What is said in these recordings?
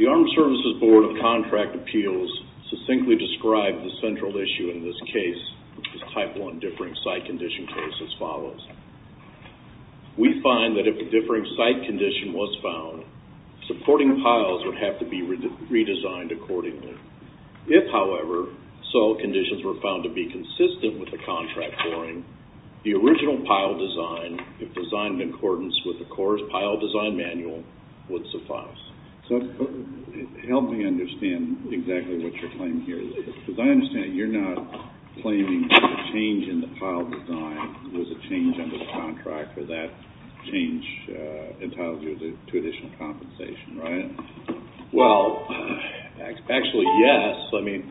The Armed Services Board of Contract Appeals succinctly described the central issue in this case, the Type I Differing Site Condition case, as follows. We find that if a differing site condition was found, supporting piles would have to be redesigned accordingly. If, however, soil conditions were found to be consistent with the contract pouring, the original pile design, if designed in accordance with the Corps' Pile Design Manual, would suffice. So help me understand exactly what you're claiming here. Because I understand you're not claiming that the change in the pile design was a change under the contract, or that change entitles you to additional compensation, right? Well, actually, yes. I mean,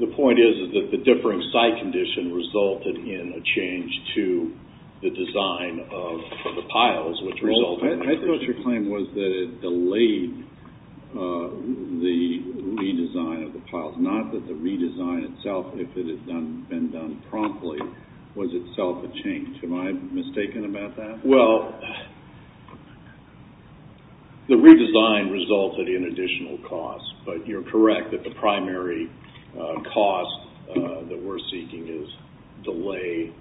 the point is that the differing site condition resulted in a change to the design of the piles, which resulted in a change. I thought your claim was that it delayed the redesign of the piles, not that the redesign itself, if it had been done promptly, was itself a change. Am I mistaken about that? Well, the redesign resulted in additional costs, but you're correct that the primary cost that we're seeking is delay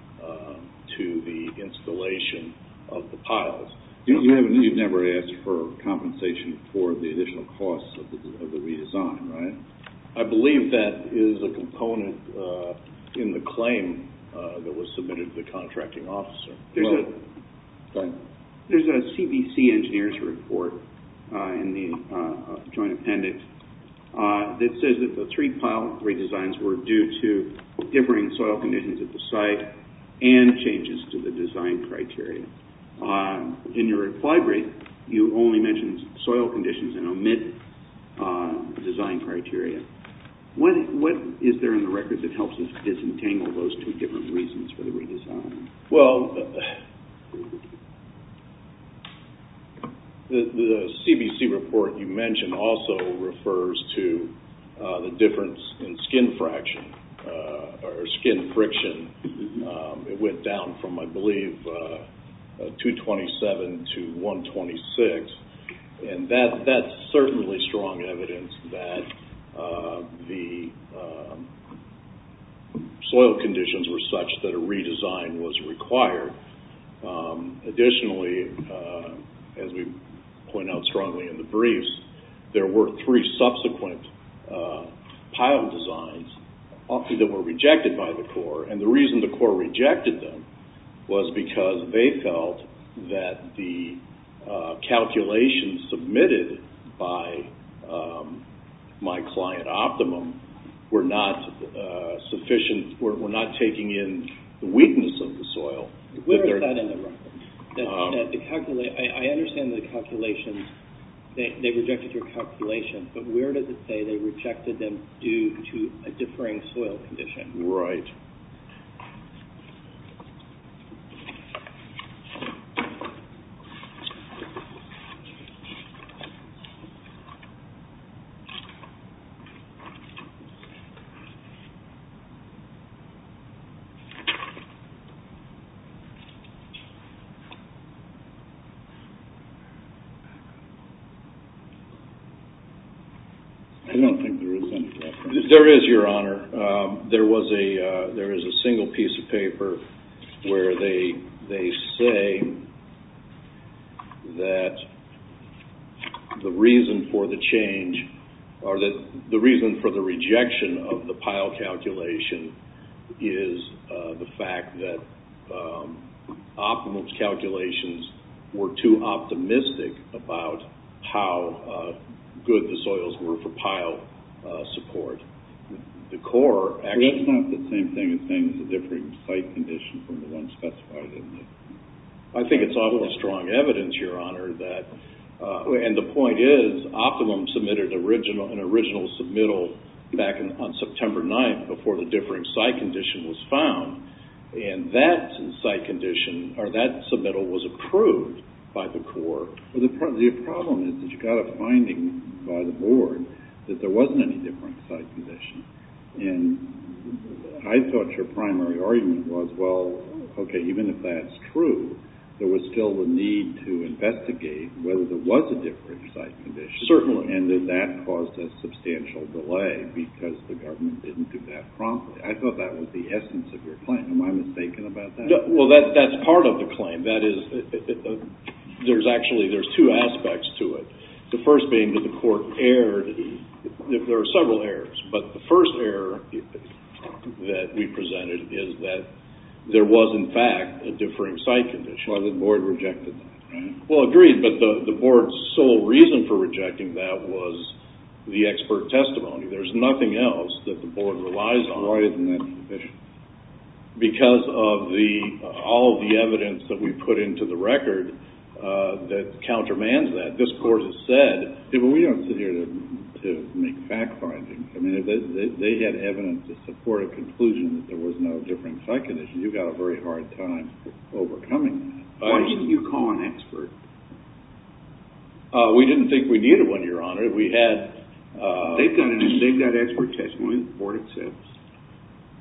to the installation of the piles. You've never asked for compensation for the additional costs of the redesign, right? I believe that is a component in the claim that was submitted to the contracting officer. There's a CBC Engineer's Report in the Joint Appendix that says that the three-pile redesigns were due to differing soil conditions at the site and changes to the design criteria. In your reply brief, you only mentioned soil conditions and omit design criteria. What is there in the record that helps us disentangle those two different reasons for the redesign? Well, the CBC report you mentioned also refers to the difference in skin friction. It went down from, I believe, 227 to 126. That's certainly strong evidence that the soil conditions were such that a redesign was required. Additionally, as we point out strongly in the briefs, there were three subsequent pile designs, often that were rejected by the Corps. The reason the Corps rejected them was because they felt that the calculations submitted by My Client Optimum were not taking in the weakness of the soil. Where is that in the record? I understand that they rejected your calculations, but where does it say they rejected them due to a differing soil condition? Right. I don't think there is any reference. There is, Your Honor. There is a single piece of paper where they say that the reason for the change or the reason for the rejection of the pile calculation is the fact that Optimum's soils were for pile support. That's not the same thing as saying it's a differing site condition from the one specified, is it? I think it's obviously strong evidence, Your Honor. The point is Optimum submitted an original submittal back on September 9th before the differing site condition was found. That submittal was approved by the Corps. The problem is that you got a finding by the Board that there wasn't any different site condition. And I thought your primary argument was, well, okay, even if that's true, there was still the need to investigate whether there was a different site condition. Certainly. And that that caused a substantial delay because the government didn't do that promptly. I thought that was the essence of your claim. Am I mistaken about that? Well, that's part of the claim. There's actually two aspects to it. The first being that the Court erred. There are several errors. But the first error that we presented is that there was, in fact, a differing site condition. Why the Board rejected that, right? Well, agreed, but the Board's sole reason for rejecting that was the expert testimony. There's nothing else that the Board relies on. Why isn't that the condition? Because of all the evidence that we put into the record that countermands that. This Court has said... We don't sit here to make fact findings. I mean, if they had evidence to support a conclusion that there was no different site condition, you've got a very hard time overcoming that. Why didn't you call an expert? We didn't think we needed one, Your Honor. We had... They've got expert testimony. The Board accepts.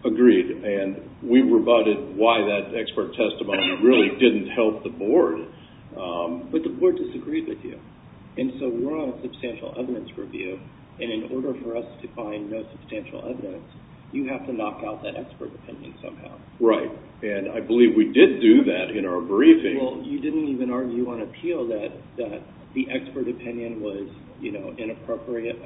Agreed. And we rebutted why that expert testimony really didn't help the Board. But the Board disagreed with you. And so we're on a substantial evidence review. And in order for us to find no substantial evidence, you have to knock out that expert opinion somehow. Right. And I believe we did do that in our briefing. Well, you didn't even argue on appeal that the expert opinion was, you know, inappropriate.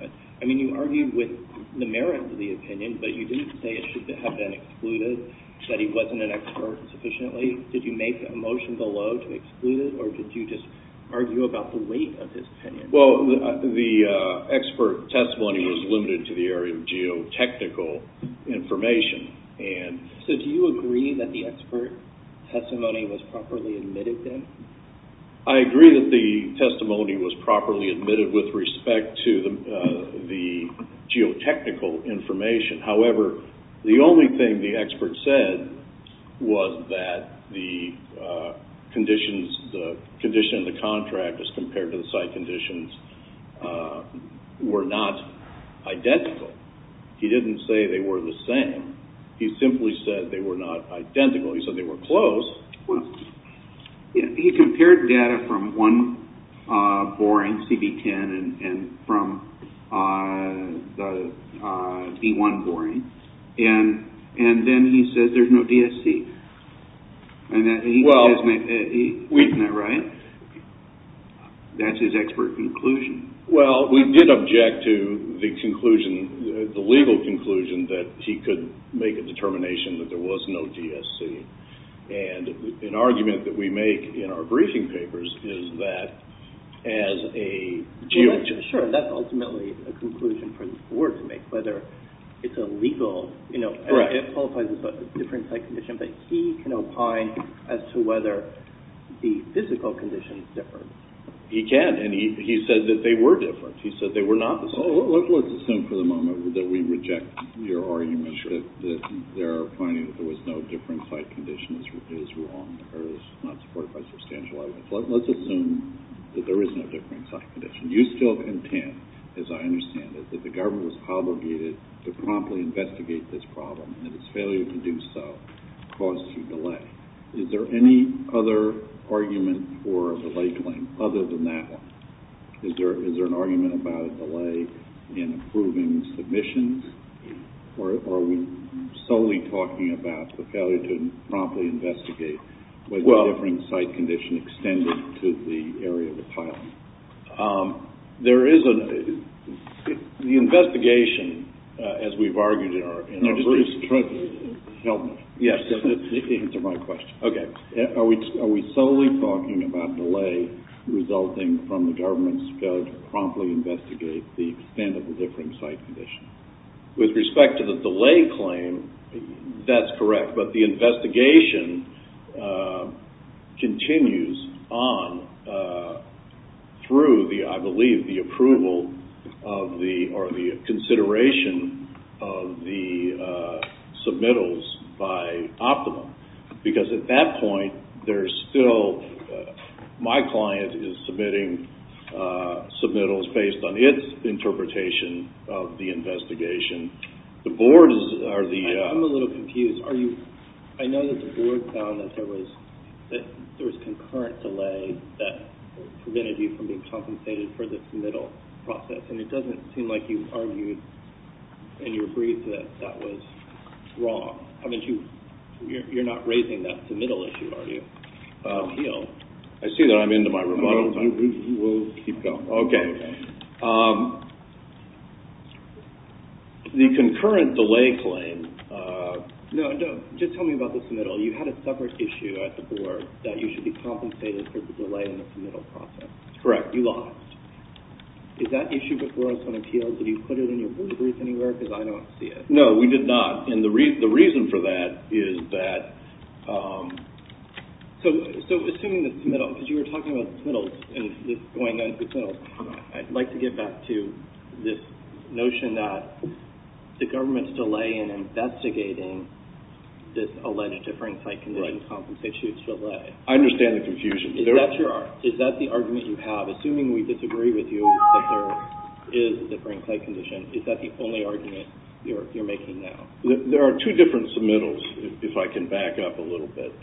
I mean, you argued with the merit of the opinion, but you didn't say it should have been excluded, that he wasn't an expert sufficiently. Did you make a motion below to exclude it? Or did you just argue about the weight of his opinion? Well, the expert testimony was limited to the area of geotechnical information. So do you agree that the expert testimony was properly admitted then? I agree that the testimony was properly admitted with respect to the geotechnical information. However, the only thing the expert said was that the conditions, the condition of the contract as compared to the site conditions were not identical. He didn't say they were the same. He simply said they were not identical. He said they were close. He compared data from one boring CB10 and from the B1 boring, and then he says there's no DSC. Isn't that right? That's his expert conclusion. Well, we did object to the conclusion, the legal conclusion, that he could make a determination that there was no DSC. And an argument that we make in our briefing papers is that as a geologist... Sure, that's ultimately a conclusion for the court to make, whether it's a legal... Correct. It qualifies as a different site condition, but he can opine as to whether the physical conditions differ. He can, and he said that they were different. He said they were not the same. Sure. They're opining that there was no different site condition is wrong, or is not supported by substantial evidence. Let's assume that there is no different site condition. You still intend, as I understand it, that the government was obligated to promptly investigate this problem, and its failure to do so caused you delay. Is there any other argument for a delay claim other than that one? Is there an argument about a delay in approving submissions? Or are we solely talking about the failure to promptly investigate whether a different site condition extended to the area of the pile? There is an... The investigation, as we've argued in our briefs... Bruce, help me. Yes. Answer my question. Okay. Are we solely talking about delay resulting from the government's failure to promptly investigate the extent of the different site condition? With respect to the delay claim, that's correct. But the investigation continues on through, I believe, the approval or the consideration of the submittals by Optimum. Because at that point, there's still... My client is submitting submittals based on its interpretation of the investigation. The board is... I'm a little confused. I know that the board found that there was concurrent delay that prevented you from being compensated for the submittal process. And it doesn't seem like you argued in your brief that that was wrong. You're not raising that submittal issue, are you? I see that I'm into my remodel. We'll keep going. Okay. The concurrent delay claim... No, just tell me about the submittal. You had a separate issue at the board that you should be compensated for the delay in the submittal process. Correct. You lost. Is that issue before us on appeals? Did you put it in your brief anywhere? Because I don't see it. No, we did not. And the reason for that is that... So, assuming the submittal, because you were talking about the submittals and going on to the submittals, I'd like to get back to this notion that the government's delay in investigating this alleged differing site condition compensates you its delay. I understand the confusion. Is that the argument you have? Assuming we disagree with you that there is a differing site condition, is that the only argument you're making now? There are two different submittals, if I can back up a little bit.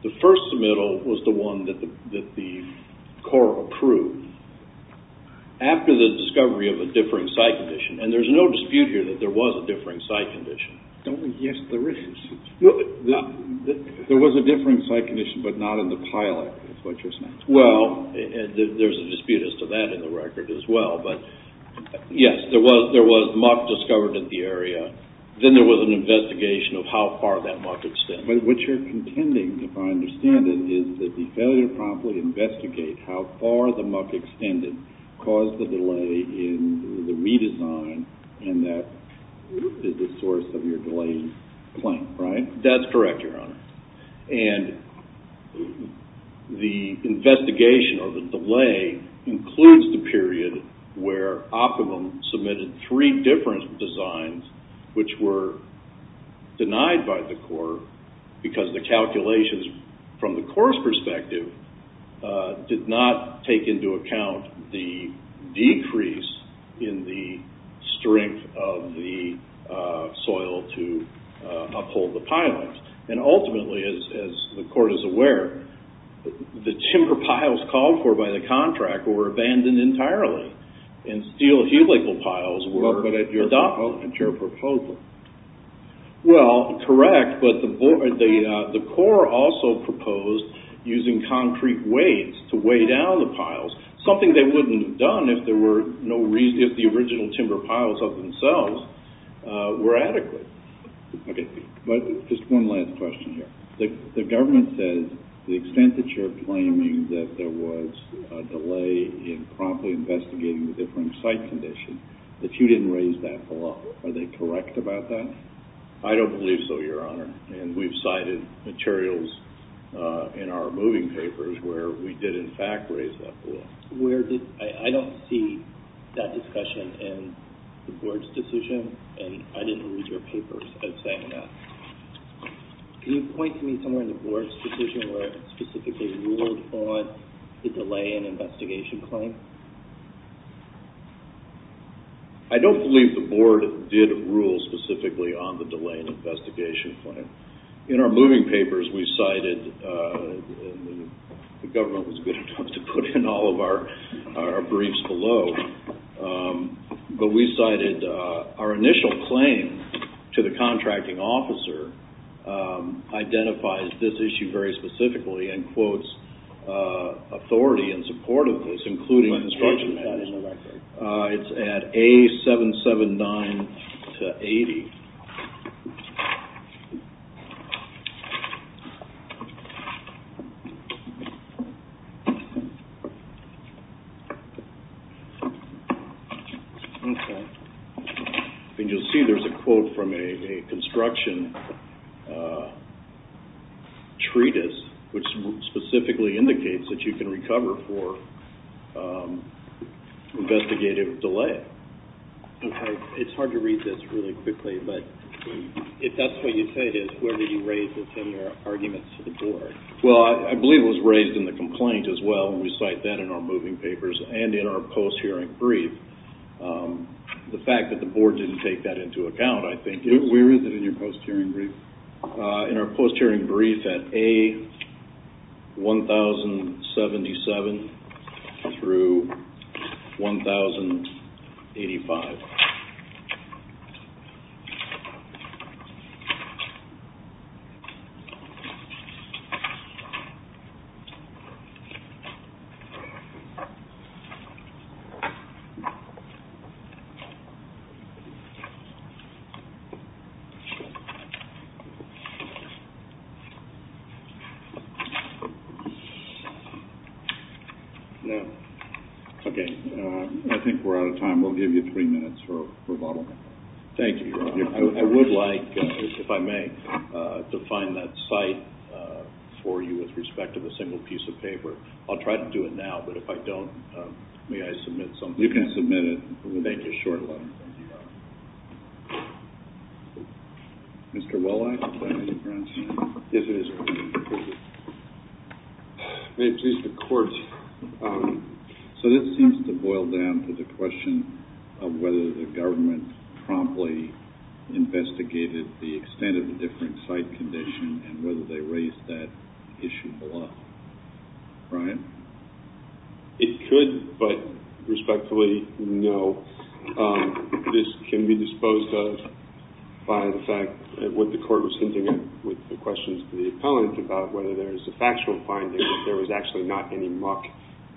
The first submittal was the one that the court approved after the discovery of a differing site condition. And there's no dispute here that there was a differing site condition. Yes, there is. There was a differing site condition, but not in the pilot. Well, there's a dispute as to that in the record as well. But yes, there was muck discovered in the area. Then there was an investigation of how far that muck had stemmed. What you're contending, if I understand it, is that the failure to promptly investigate how far the muck extended caused the delay in the redesign and that is the source of your delaying claim, right? That's correct, Your Honor. And the investigation of the delay includes the period where Optimum submitted three different designs which were denied by the court because the calculations from the court's perspective did not take into account the decrease in the strength of the soil to uphold the pilot. And ultimately, as the court is aware, the timber piles called for by the contract were abandoned entirely. And steel helical piles were adopted. But that wasn't your proposal. Well, correct, but the court also proposed using concrete weights to weigh down the piles, something they wouldn't have done if the original timber piles of themselves were adequate. Okay, just one last question here. The government says the extent that you're claiming that there was a delay in promptly investigating the differing site condition, that you didn't raise that below. Are they correct about that? I don't believe so, Your Honor. And we've cited materials in our moving papers where we did, in fact, raise that below. I don't see that discussion in the board's decision and I didn't read your papers as saying that. Can you point to me somewhere in the board's decision where it specifically ruled on the delay in investigation claim? I don't believe the board did rule specifically on the delay in investigation claim. In our moving papers, we cited, the government was good enough to put in all of our briefs below, but we cited our initial claim to the contracting officer identifies this issue very specifically and quotes authority in support of this, including construction matters. It's at A779-80. Okay. And you'll see there's a quote from a construction treatise, which specifically indicates that you can recover for investigative delay. Okay. It's hard to read this really quickly, but if that's what you say it is, where did you raise this in your arguments to the board? Well, I believe it was raised in the complaint as well, and we cite that in our moving papers and in our post-hearing brief. The fact that the board didn't take that into account, I think, is... Where is it in your post-hearing brief? In our post-hearing brief at A1077-1085. Okay. I think we're out of time. We'll give you three minutes for rebuttal. Thank you, Your Honor. I would like, if I may, to find that cite for you with respect to the single piece of paper. I'll try to do it now, but if I don't, may I submit something? You can submit it. Thank you, Your Honor. Thank you, Your Honor. Mr. Wallach, is that what you're asking? Yes, it is. May it please the Court. So this seems to boil down to the question of whether the government promptly investigated the extent of the different cite condition and whether they raised that issue a lot. Brian? It could, but respectfully, no. This can be disposed of by the fact that what the Court was hinting at with the questions to the appellant about whether there is a factual finding that there was actually not any muck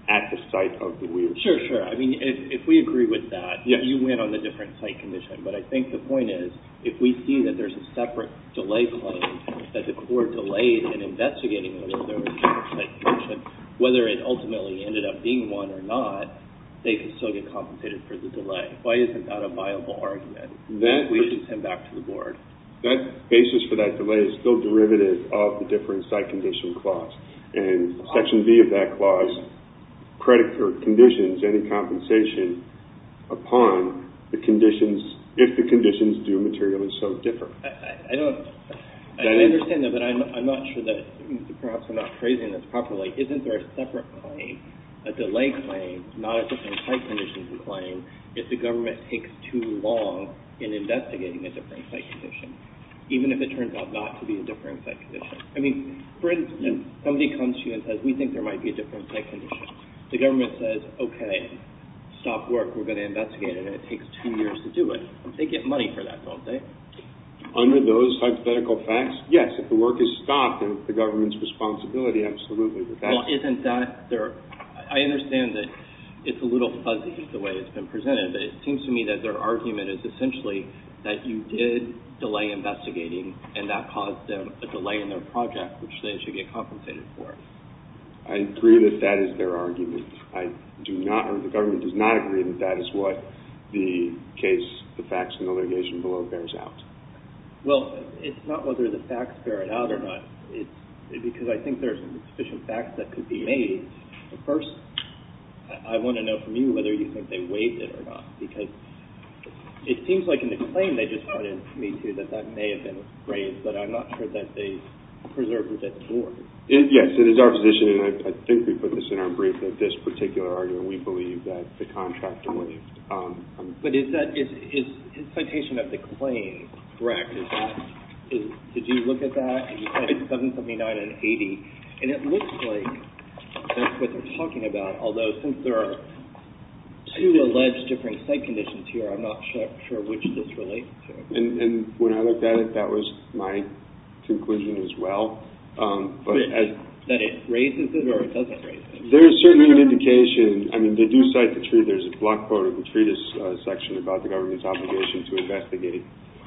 at the site of the weirs. Sure, sure. I mean, if we agree with that, you win on the different cite condition. But I think the point is, if we see that there's a separate delay claim, that the Court delayed in investigating whether there was a different cite condition, whether it ultimately ended up being one or not, they could still get compensated for the delay. Why isn't that a viable argument? We should send that back to the Board. That basis for that delay is still derivative of the different cite condition clause. And Section B of that clause conditions any compensation upon the conditions, if the conditions do materially so differ. I don't understand that, but I'm not sure that perhaps I'm not phrasing this properly. Isn't there a separate claim, a delay claim, not a different cite condition claim, if the government takes too long in investigating a different cite condition, even if it turns out not to be a different cite condition? I mean, for instance, somebody comes to you and says, we think there might be a different cite condition. The government says, okay, stop work. We're going to investigate it, and it takes two years to do it. They get money for that, don't they? Under those hypothetical facts, yes. If the work is stopped, it's the government's responsibility, absolutely. Well, isn't that their – I understand that it's a little fuzzy the way it's been presented, but it seems to me that their argument is essentially that you did delay investigating, and that caused them a delay in their project, which they should get compensated for. I agree that that is their argument. I do not – or the government does not agree that that is what the case – the facts in the litigation below bears out. Well, it's not whether the facts bear it out or not. It's because I think there's sufficient facts that could be made. First, I want to know from you whether you think they waived it or not, because it seems like in the claim they just put in for me, too, that that may have been waived, but I'm not sure that they preserved it at the Board. Yes, it is our position, and I think we put this in our brief, that this particular argument we believe that the contractor waived. But is that – is citation of the claim correct? Did you look at that? You said it's 779 and 80, and it looks like that's what they're talking about, although since there are two alleged different site conditions here, I'm not sure which this relates to. And when I looked at it, that was my conclusion as well. But then it raises it or it doesn't raise it? There is certainly an indication – I mean, they do cite the – there's a block quote of the treatise section about the government's obligation to investigate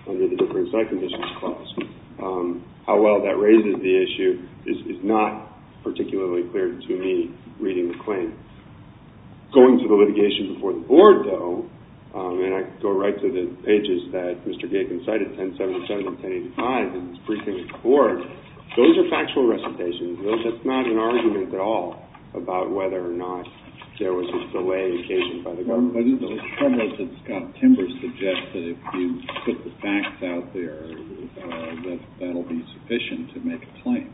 under the different site conditions clause. How well that raises the issue is not particularly clear to me, reading the claim. Going to the litigation before the Board, though, and I go right to the pages that Mr. Bacon cited, 1077 and 1085 in his briefing with the Board, those are factual recitations. That's not an argument at all about whether or not there was a delay occasioned by the government. Why didn't those troubles that Scott Timbers suggested, if you put the facts out there, that that will be sufficient to make a claim?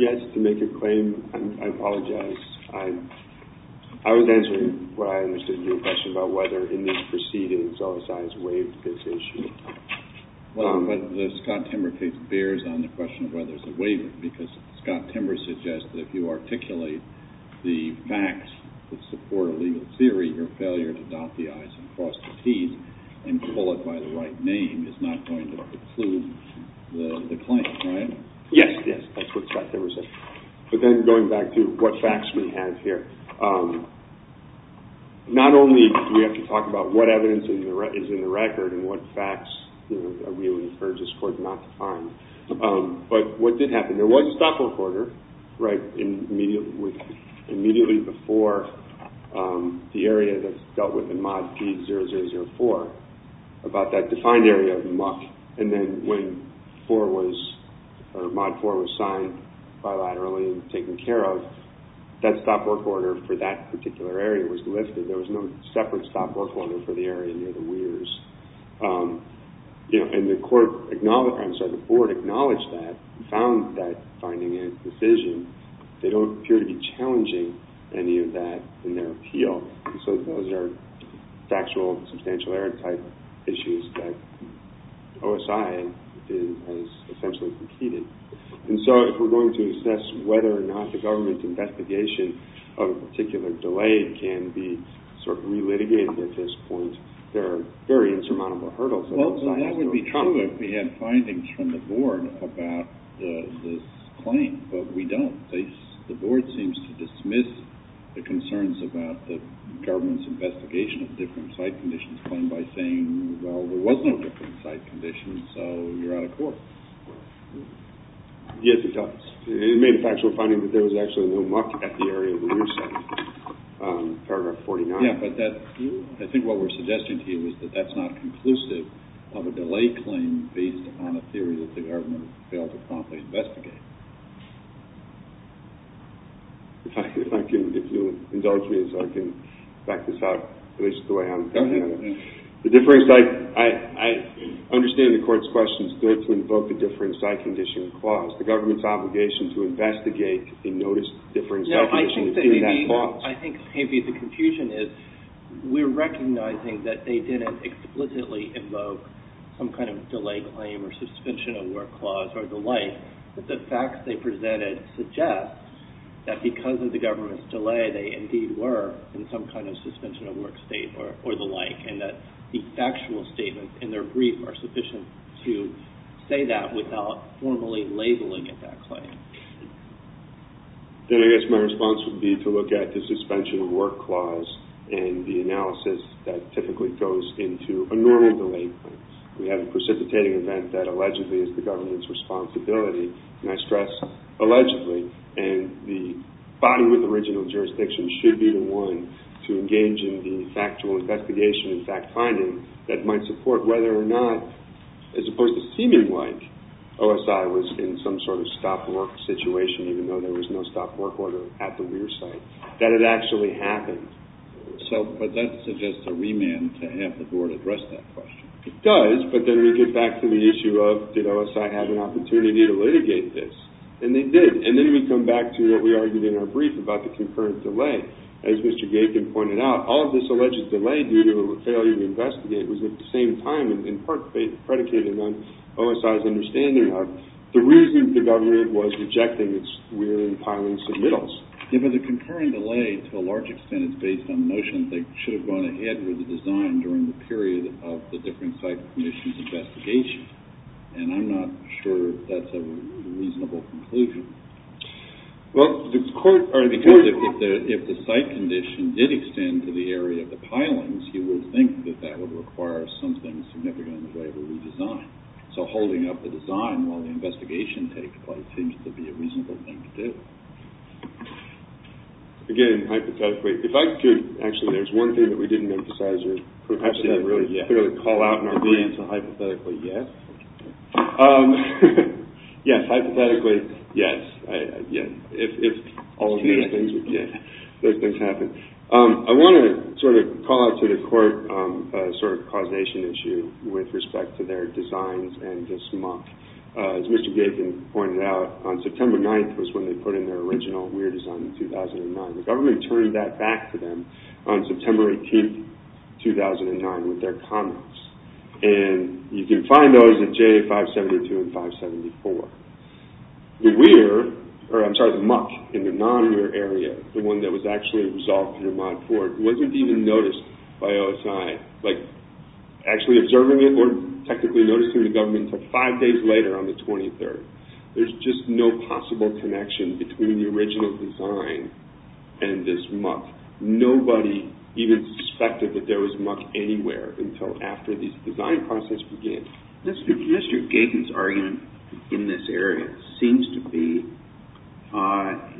Yes, to make a claim, I apologize. I was answering what I understood to be a question about whether in these proceedings OSI has waived this issue. Well, but the Scott Timbers case bears on the question of whether it's a waiver, because Scott Timbers suggested if you articulate the facts that support a legal theory, your failure to dot the i's and cross the t's and pull it by the right name is not going to preclude the claim, right? Yes, yes, that's what Scott Timbers said. But then going back to what facts we have here, not only do we have to talk about what evidence is in the record and what facts we would encourage this Court not to find, but what did happen? There was a stop-move order, right, immediately before the area that's dealt with in Mod P0004 about that defined area of muck. And then when Mod P004 was signed bilaterally and taken care of, that stop-work order for that particular area was lifted. There was no separate stop-work order for the area near the weirs. And the Board acknowledged that, found that finding in its decision. They don't appear to be challenging any of that in their appeal. So those are factual substantial error type issues that OSI has essentially competed. And so if we're going to assess whether or not the government investigation of a particular delay can be sort of re-litigated at this point, there are very insurmountable hurdles that OSI has to overcome. Well, that would be true if we had findings from the Board about this claim, but we don't. The Board seems to dismiss the concerns about the government's investigation of different site conditions claimed by saying, well, there was no different site conditions, so you're out of court. Yes, it does. It made a factual finding that there was actually no muck at the area where you're sitting. Paragraph 49. Yeah, but I think what we're suggesting to you is that that's not conclusive of a delay claim based on a theory that the government failed to promptly investigate. If you'll indulge me so I can back this up, at least the way I understand it. I understand the Court's question is good to invoke a different site condition clause. The government's obligation to investigate a noticed different site condition is in that clause. I think maybe the confusion is we're recognizing that they didn't explicitly invoke some kind of delay claim or suspension of work clause or the like, but the facts they presented suggest that because of the government's delay, they indeed were in some kind of suspension of work state or the like, and that the factual statements in their brief are sufficient to say that without formally labeling it that claim. Then I guess my response would be to look at the suspension of work clause and the analysis that typically goes into a normal delay claim. We have a precipitating event that allegedly is the government's responsibility, and I stress allegedly, and the body with original jurisdiction should be the one to engage in the factual investigation and fact-finding that might support whether or not, as opposed to seeming like OSI was in some sort of stopped work situation, even though there was no stopped work order at the Weir site, that it actually happened. But that suggests a remand to have the board address that question. It does, but then we get back to the issue of did OSI have an opportunity to litigate this? And they did. And then we come back to what we argued in our brief about the concurrent delay. As Mr. Gabin pointed out, all of this alleged delay due to a failure to investigate was at the same time in part predicated on OSI's understanding of the reason the government was rejecting its Weir and Piling submittals. If it's a concurrent delay, to a large extent it's based on notions that should have gone ahead with the design during the period of the different site commission's investigation. And I'm not sure that's a reasonable conclusion. Because if the site condition did extend to the area of the pilings, you would think that that would require something significant in the way of a redesign. So holding up the design while the investigation takes place seems to be a reasonable thing to do. Again, hypothetically, if I could, actually there's one thing that we didn't emphasize, or perhaps didn't really call out in our brief. Hypothetically, yes. Yes, hypothetically, yes. If all of those things happen. I want to sort of call out to the court a sort of causation issue with respect to their designs and this muck. As Mr. Gaikin pointed out, on September 9th was when they put in their original Weir design in 2009. The government turned that back to them on September 18th, 2009 with their comments. And you can find those at J572 and 574. The Weir, or I'm sorry, the muck in the non-Weir area, the one that was actually resolved through Mod 4, wasn't even noticed by OSI. Like, actually observing it or technically noticing the government until five days later on the 23rd. There's just no possible connection between the original design and this muck. Nobody even suspected that there was muck anywhere until after this design process began. Mr. Gaikin's argument in this area seems to be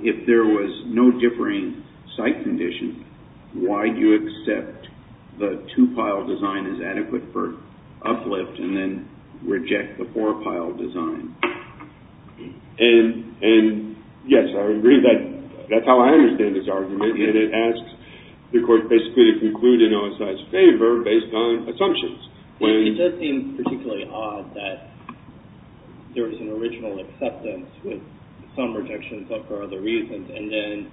if there was no differing site condition, why do you accept the two-pile design is adequate for uplift and then reject the four-pile design? And yes, I agree. That's how I understand his argument. And it asks the court basically to conclude in OSI's favor based on assumptions. It does seem particularly odd that there was an original acceptance with some rejections, but for other reasons. And then,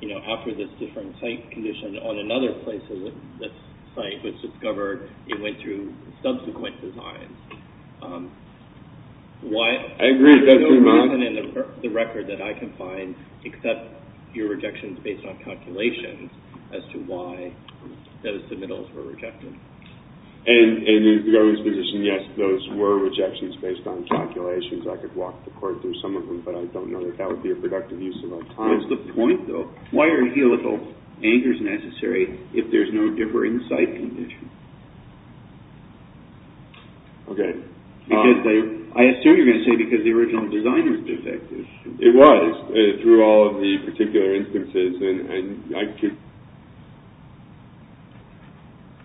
you know, after this different site condition on another place of this site was discovered, it went through subsequent designs. I agree. There's no reason in the record that I can find except your rejections based on calculations as to why those submittals were rejected. And in Garvey's position, yes, those were rejections based on calculations. I could walk the court through some of them, but I don't know that that would be a productive use of our time. What's the point, though? Why are helical anchors necessary if there's no differing site condition? Okay. I assume you're going to say because the original design was defective. It was through all of the particular instances.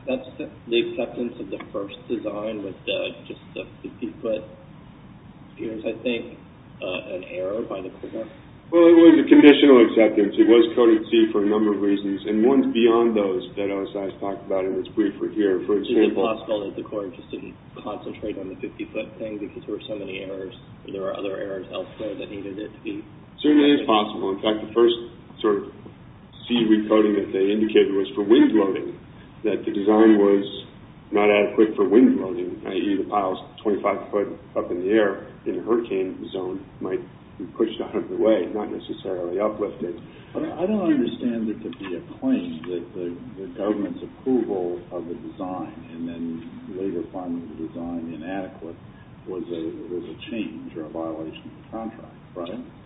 That's the acceptance of the first design with just the 50-foot. Here's, I think, an error by the court. Well, it was a conditional acceptance. It was coded C for a number of reasons, and one's beyond those that OSI's talked about in its briefer here. Is it possible that the court just didn't concentrate on the 50-foot thing because there were so many errors and there were other errors elsewhere that needed it to be? It certainly is possible. In fact, the first sort of C recoding that they indicated was for wind loading, that the design was not adequate for wind loading, i.e., the piles 25 foot up in the air in a hurricane zone might be pushed out of the way, not necessarily uplifted. I don't understand there to be a claim that the government's approval of the design and then later finding the design inadequate was a change or a violation of the contract.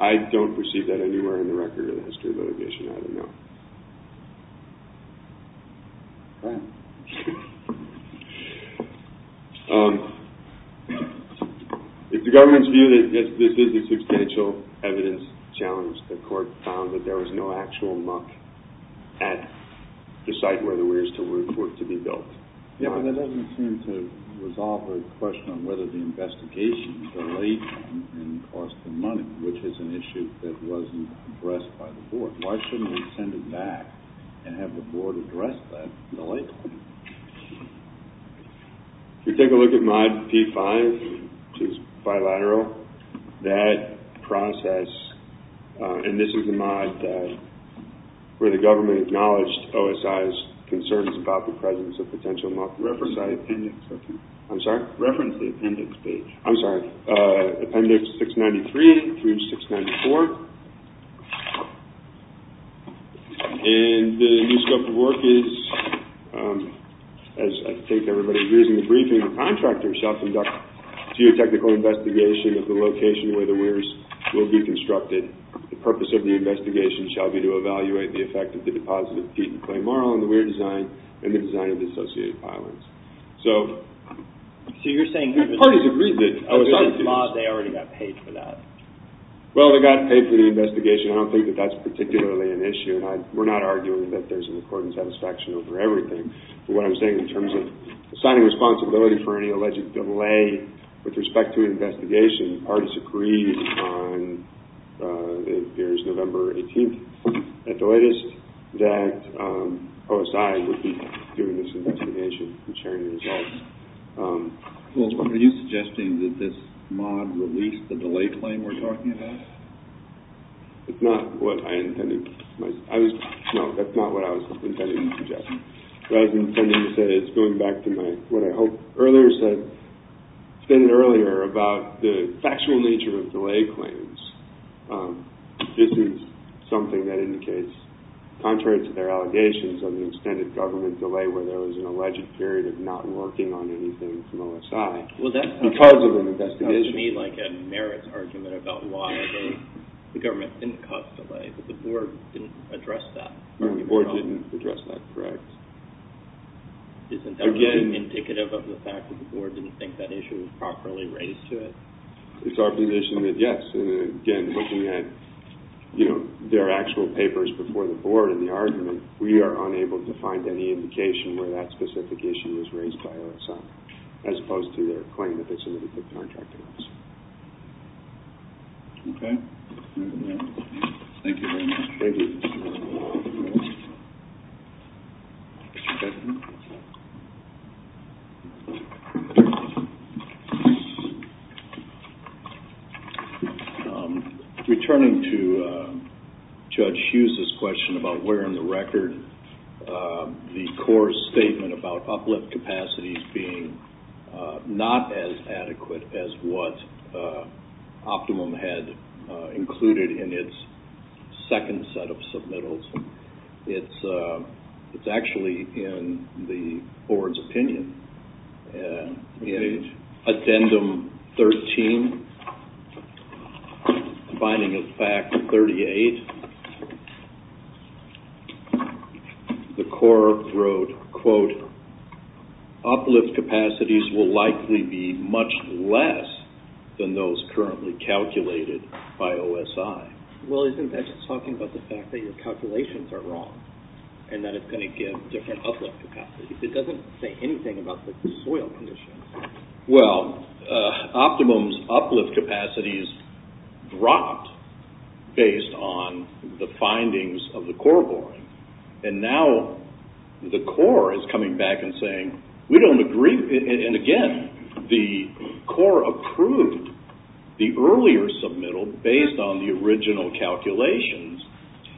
I don't receive that anywhere in the record of the history of litigation. I don't know. It's the government's view that this is a substantial evidence challenge. The court found that there was no actual muck at the site where the weirs were to be built. Yeah, but that doesn't seem to resolve the question on whether the investigation delayed and cost them money, which is an issue that wasn't addressed by the board. Why shouldn't we send it back and have the board address that delay? If you take a look at Mod P5, which is bilateral, that process... This is the mod where the government acknowledged OSI's concerns about the presence of potential muck. Reference the appendix page. I'm sorry. Appendix 693 through 694. The new scope of work is, as I think everybody agrees in the briefing, the contractor shall conduct a geotechnical investigation of the location where the weirs will be constructed The purpose of the investigation shall be to evaluate the effect of the deposit of peat and clay marl on the weir design and the design of the associated pylons. So you're saying... The parties agreed that... Under this law, they already got paid for that. Well, they got paid for the investigation. I don't think that that's particularly an issue. We're not arguing that there's an according satisfaction over everything. But what I'm saying in terms of assigning responsibility for any alleged delay with respect to an investigation, the parties agreed on... It appears November 18th at the latest, that OSI would be doing this investigation and sharing the results. Well, are you suggesting that this mod released the delay claim we're talking about? It's not what I intended. I was... No, that's not what I was intending to suggest. What I was intending to say is going back to my... Earlier I said... I said it earlier about the factual nature of delay claims. This is something that indicates, contrary to their allegations of the extended government delay, where there was an alleged period of not working on anything from OSI because of an investigation. Well, that sounds to me like a merits argument about why the government didn't cause delay, but the board didn't address that. The board didn't address that, correct. Isn't that indicative of the fact that the board didn't think that issue was properly raised to it? It's our position that yes. And again, looking at their actual papers before the board and the argument, we are unable to find any indication where that specific issue was raised by OSI, as opposed to their claim that they submitted the contract to us. Okay. Thank you very much. Thank you. Okay. Returning to Judge Hughes' question about where in the record the core statement about uplift capacities being not as adequate as what Optimum had included in its second set of submittals, it's actually in the board's opinion. In addendum 13, combining with fact 38, the core wrote, quote, uplift capacities will likely be much less than those currently calculated by OSI. Well, isn't that just talking about the fact that your calculations are wrong and that it's going to give different uplift capacities? It doesn't say anything about the soil conditions. Well, Optimum's uplift capacities dropped based on the findings of the core board. And now the core is coming back and saying, we don't agree. And again, the core approved the earlier submittal based on the original calculations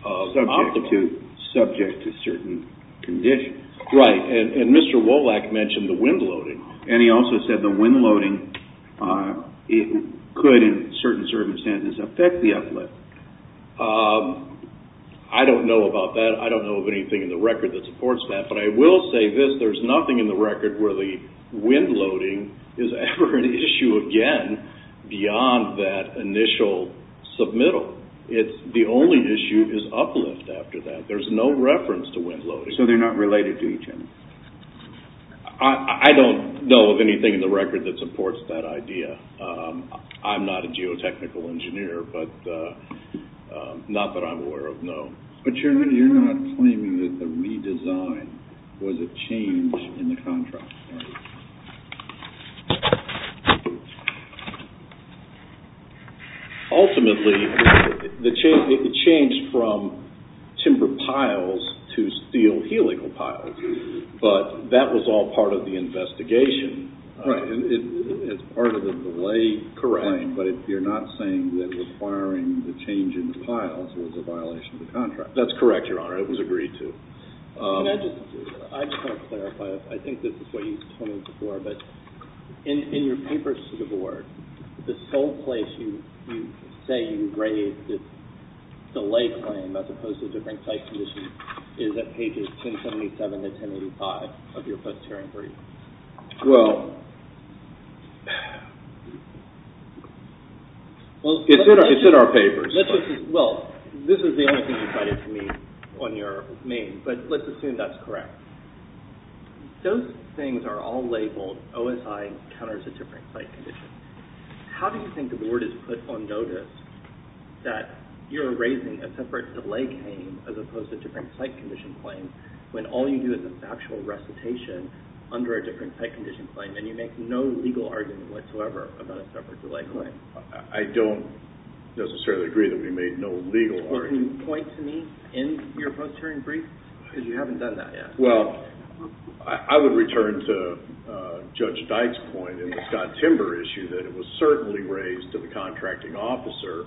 of Optimum. Subject to certain conditions. Right. And Mr. Wolak mentioned the wind loading. And he also said the wind loading could, in certain circumstances, affect the uplift. I don't know about that. I don't know of anything in the record that supports that. But I will say this. There's nothing in the record where the wind loading is ever an issue again beyond that initial submittal. The only issue is uplift after that. There's no reference to wind loading. So they're not related to each other? I don't know of anything in the record that supports that idea. I'm not a geotechnical engineer, but not that I'm aware of, no. But you're not claiming that the redesign was a change in the contract? Ultimately, it changed from timber piles to steel helical piles. But that was all part of the investigation. Right. It's part of the delay claim. But you're not saying that requiring the change in the piles was a violation of the contract? That's correct, Your Honor. It was agreed to. I just want to clarify. I think this is what you told me before. But in your papers to the Board, the sole place you say you raised this delay claim, as opposed to different site conditions, is at pages 1077 to 1085 of your post-hearing brief. Well, it's in our papers. Well, this is the only thing you cited to me on your main. But let's assume that's correct. Those things are all labeled, OSI counters a different site condition. How do you think the Board has put on notice that you're raising a separate delay claim, as opposed to a different site condition claim, when all you do is a factual recitation under a different site condition claim, and you make no legal argument whatsoever about a separate delay claim? I don't necessarily agree that we made no legal argument. Can you point to me in your post-hearing brief? Because you haven't done that yet. Well, I would return to Judge Dyke's point in the Scott Timber issue, that it was certainly raised to the contracting officer.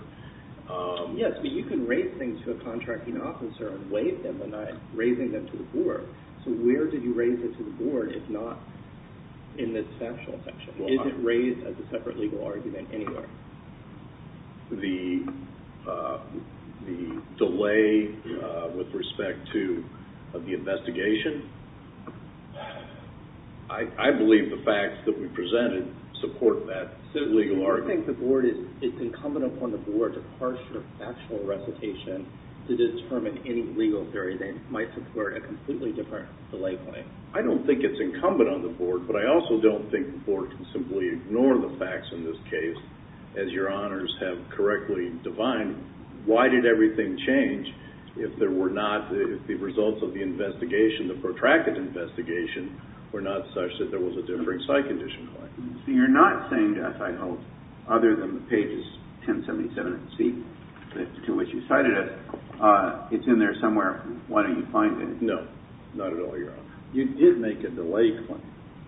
Yes, but you can raise things to a contracting officer and waive them by not raising them to the Board. So where did you raise it to the Board, if not in this factual section? Is it raised as a separate legal argument anywhere? The delay with respect to the investigation? I believe the facts that we presented support that legal argument. I don't think it's incumbent upon the Board to parse your factual recitation to determine any legal theory that might support a completely different delay claim. I don't think it's incumbent upon the Board, but I also don't think the Board can simply ignore the facts in this case, as your honors have correctly defined. Why did everything change if the results of the protracted investigation were not such that there was a different site condition claim? So you're not saying to us, I hope, other than the pages 1077 and C, to which you cited it, it's in there somewhere. Why don't you find it? No, not at all, Your Honor. You did make a delay claim.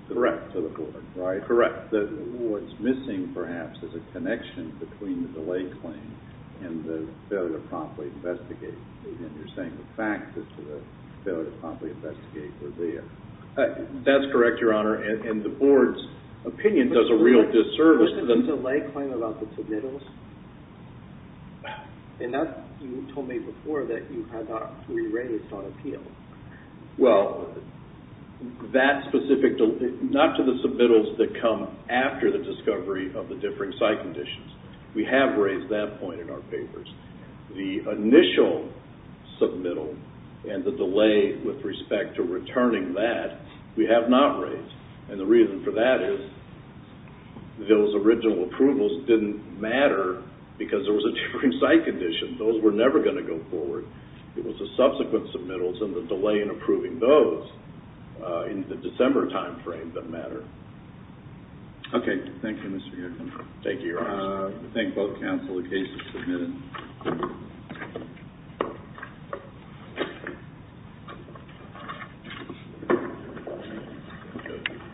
Correct. To the Board, right? Correct. What's missing, perhaps, is a connection between the delay claim and the failure to promptly investigate. You're saying the facts as to the failure to promptly investigate were there. That's correct, Your Honor. The Board's opinion does a real disservice. What's the delay claim about the submittals? You told me before that you had that re-raised on appeal. Well, not to the submittals that come after the discovery of the differing site conditions. We have raised that point in our papers. The initial submittal and the delay with respect to returning that, we have not raised. And the reason for that is those original approvals didn't matter because there was a different site condition. Those were never going to go forward. It was the subsequent submittals and the delay in approving those in the December time frame that mattered. Okay. Thank you, Mr. Yerken. Thank you, Your Honor. I thank both counsel. The case is submitted.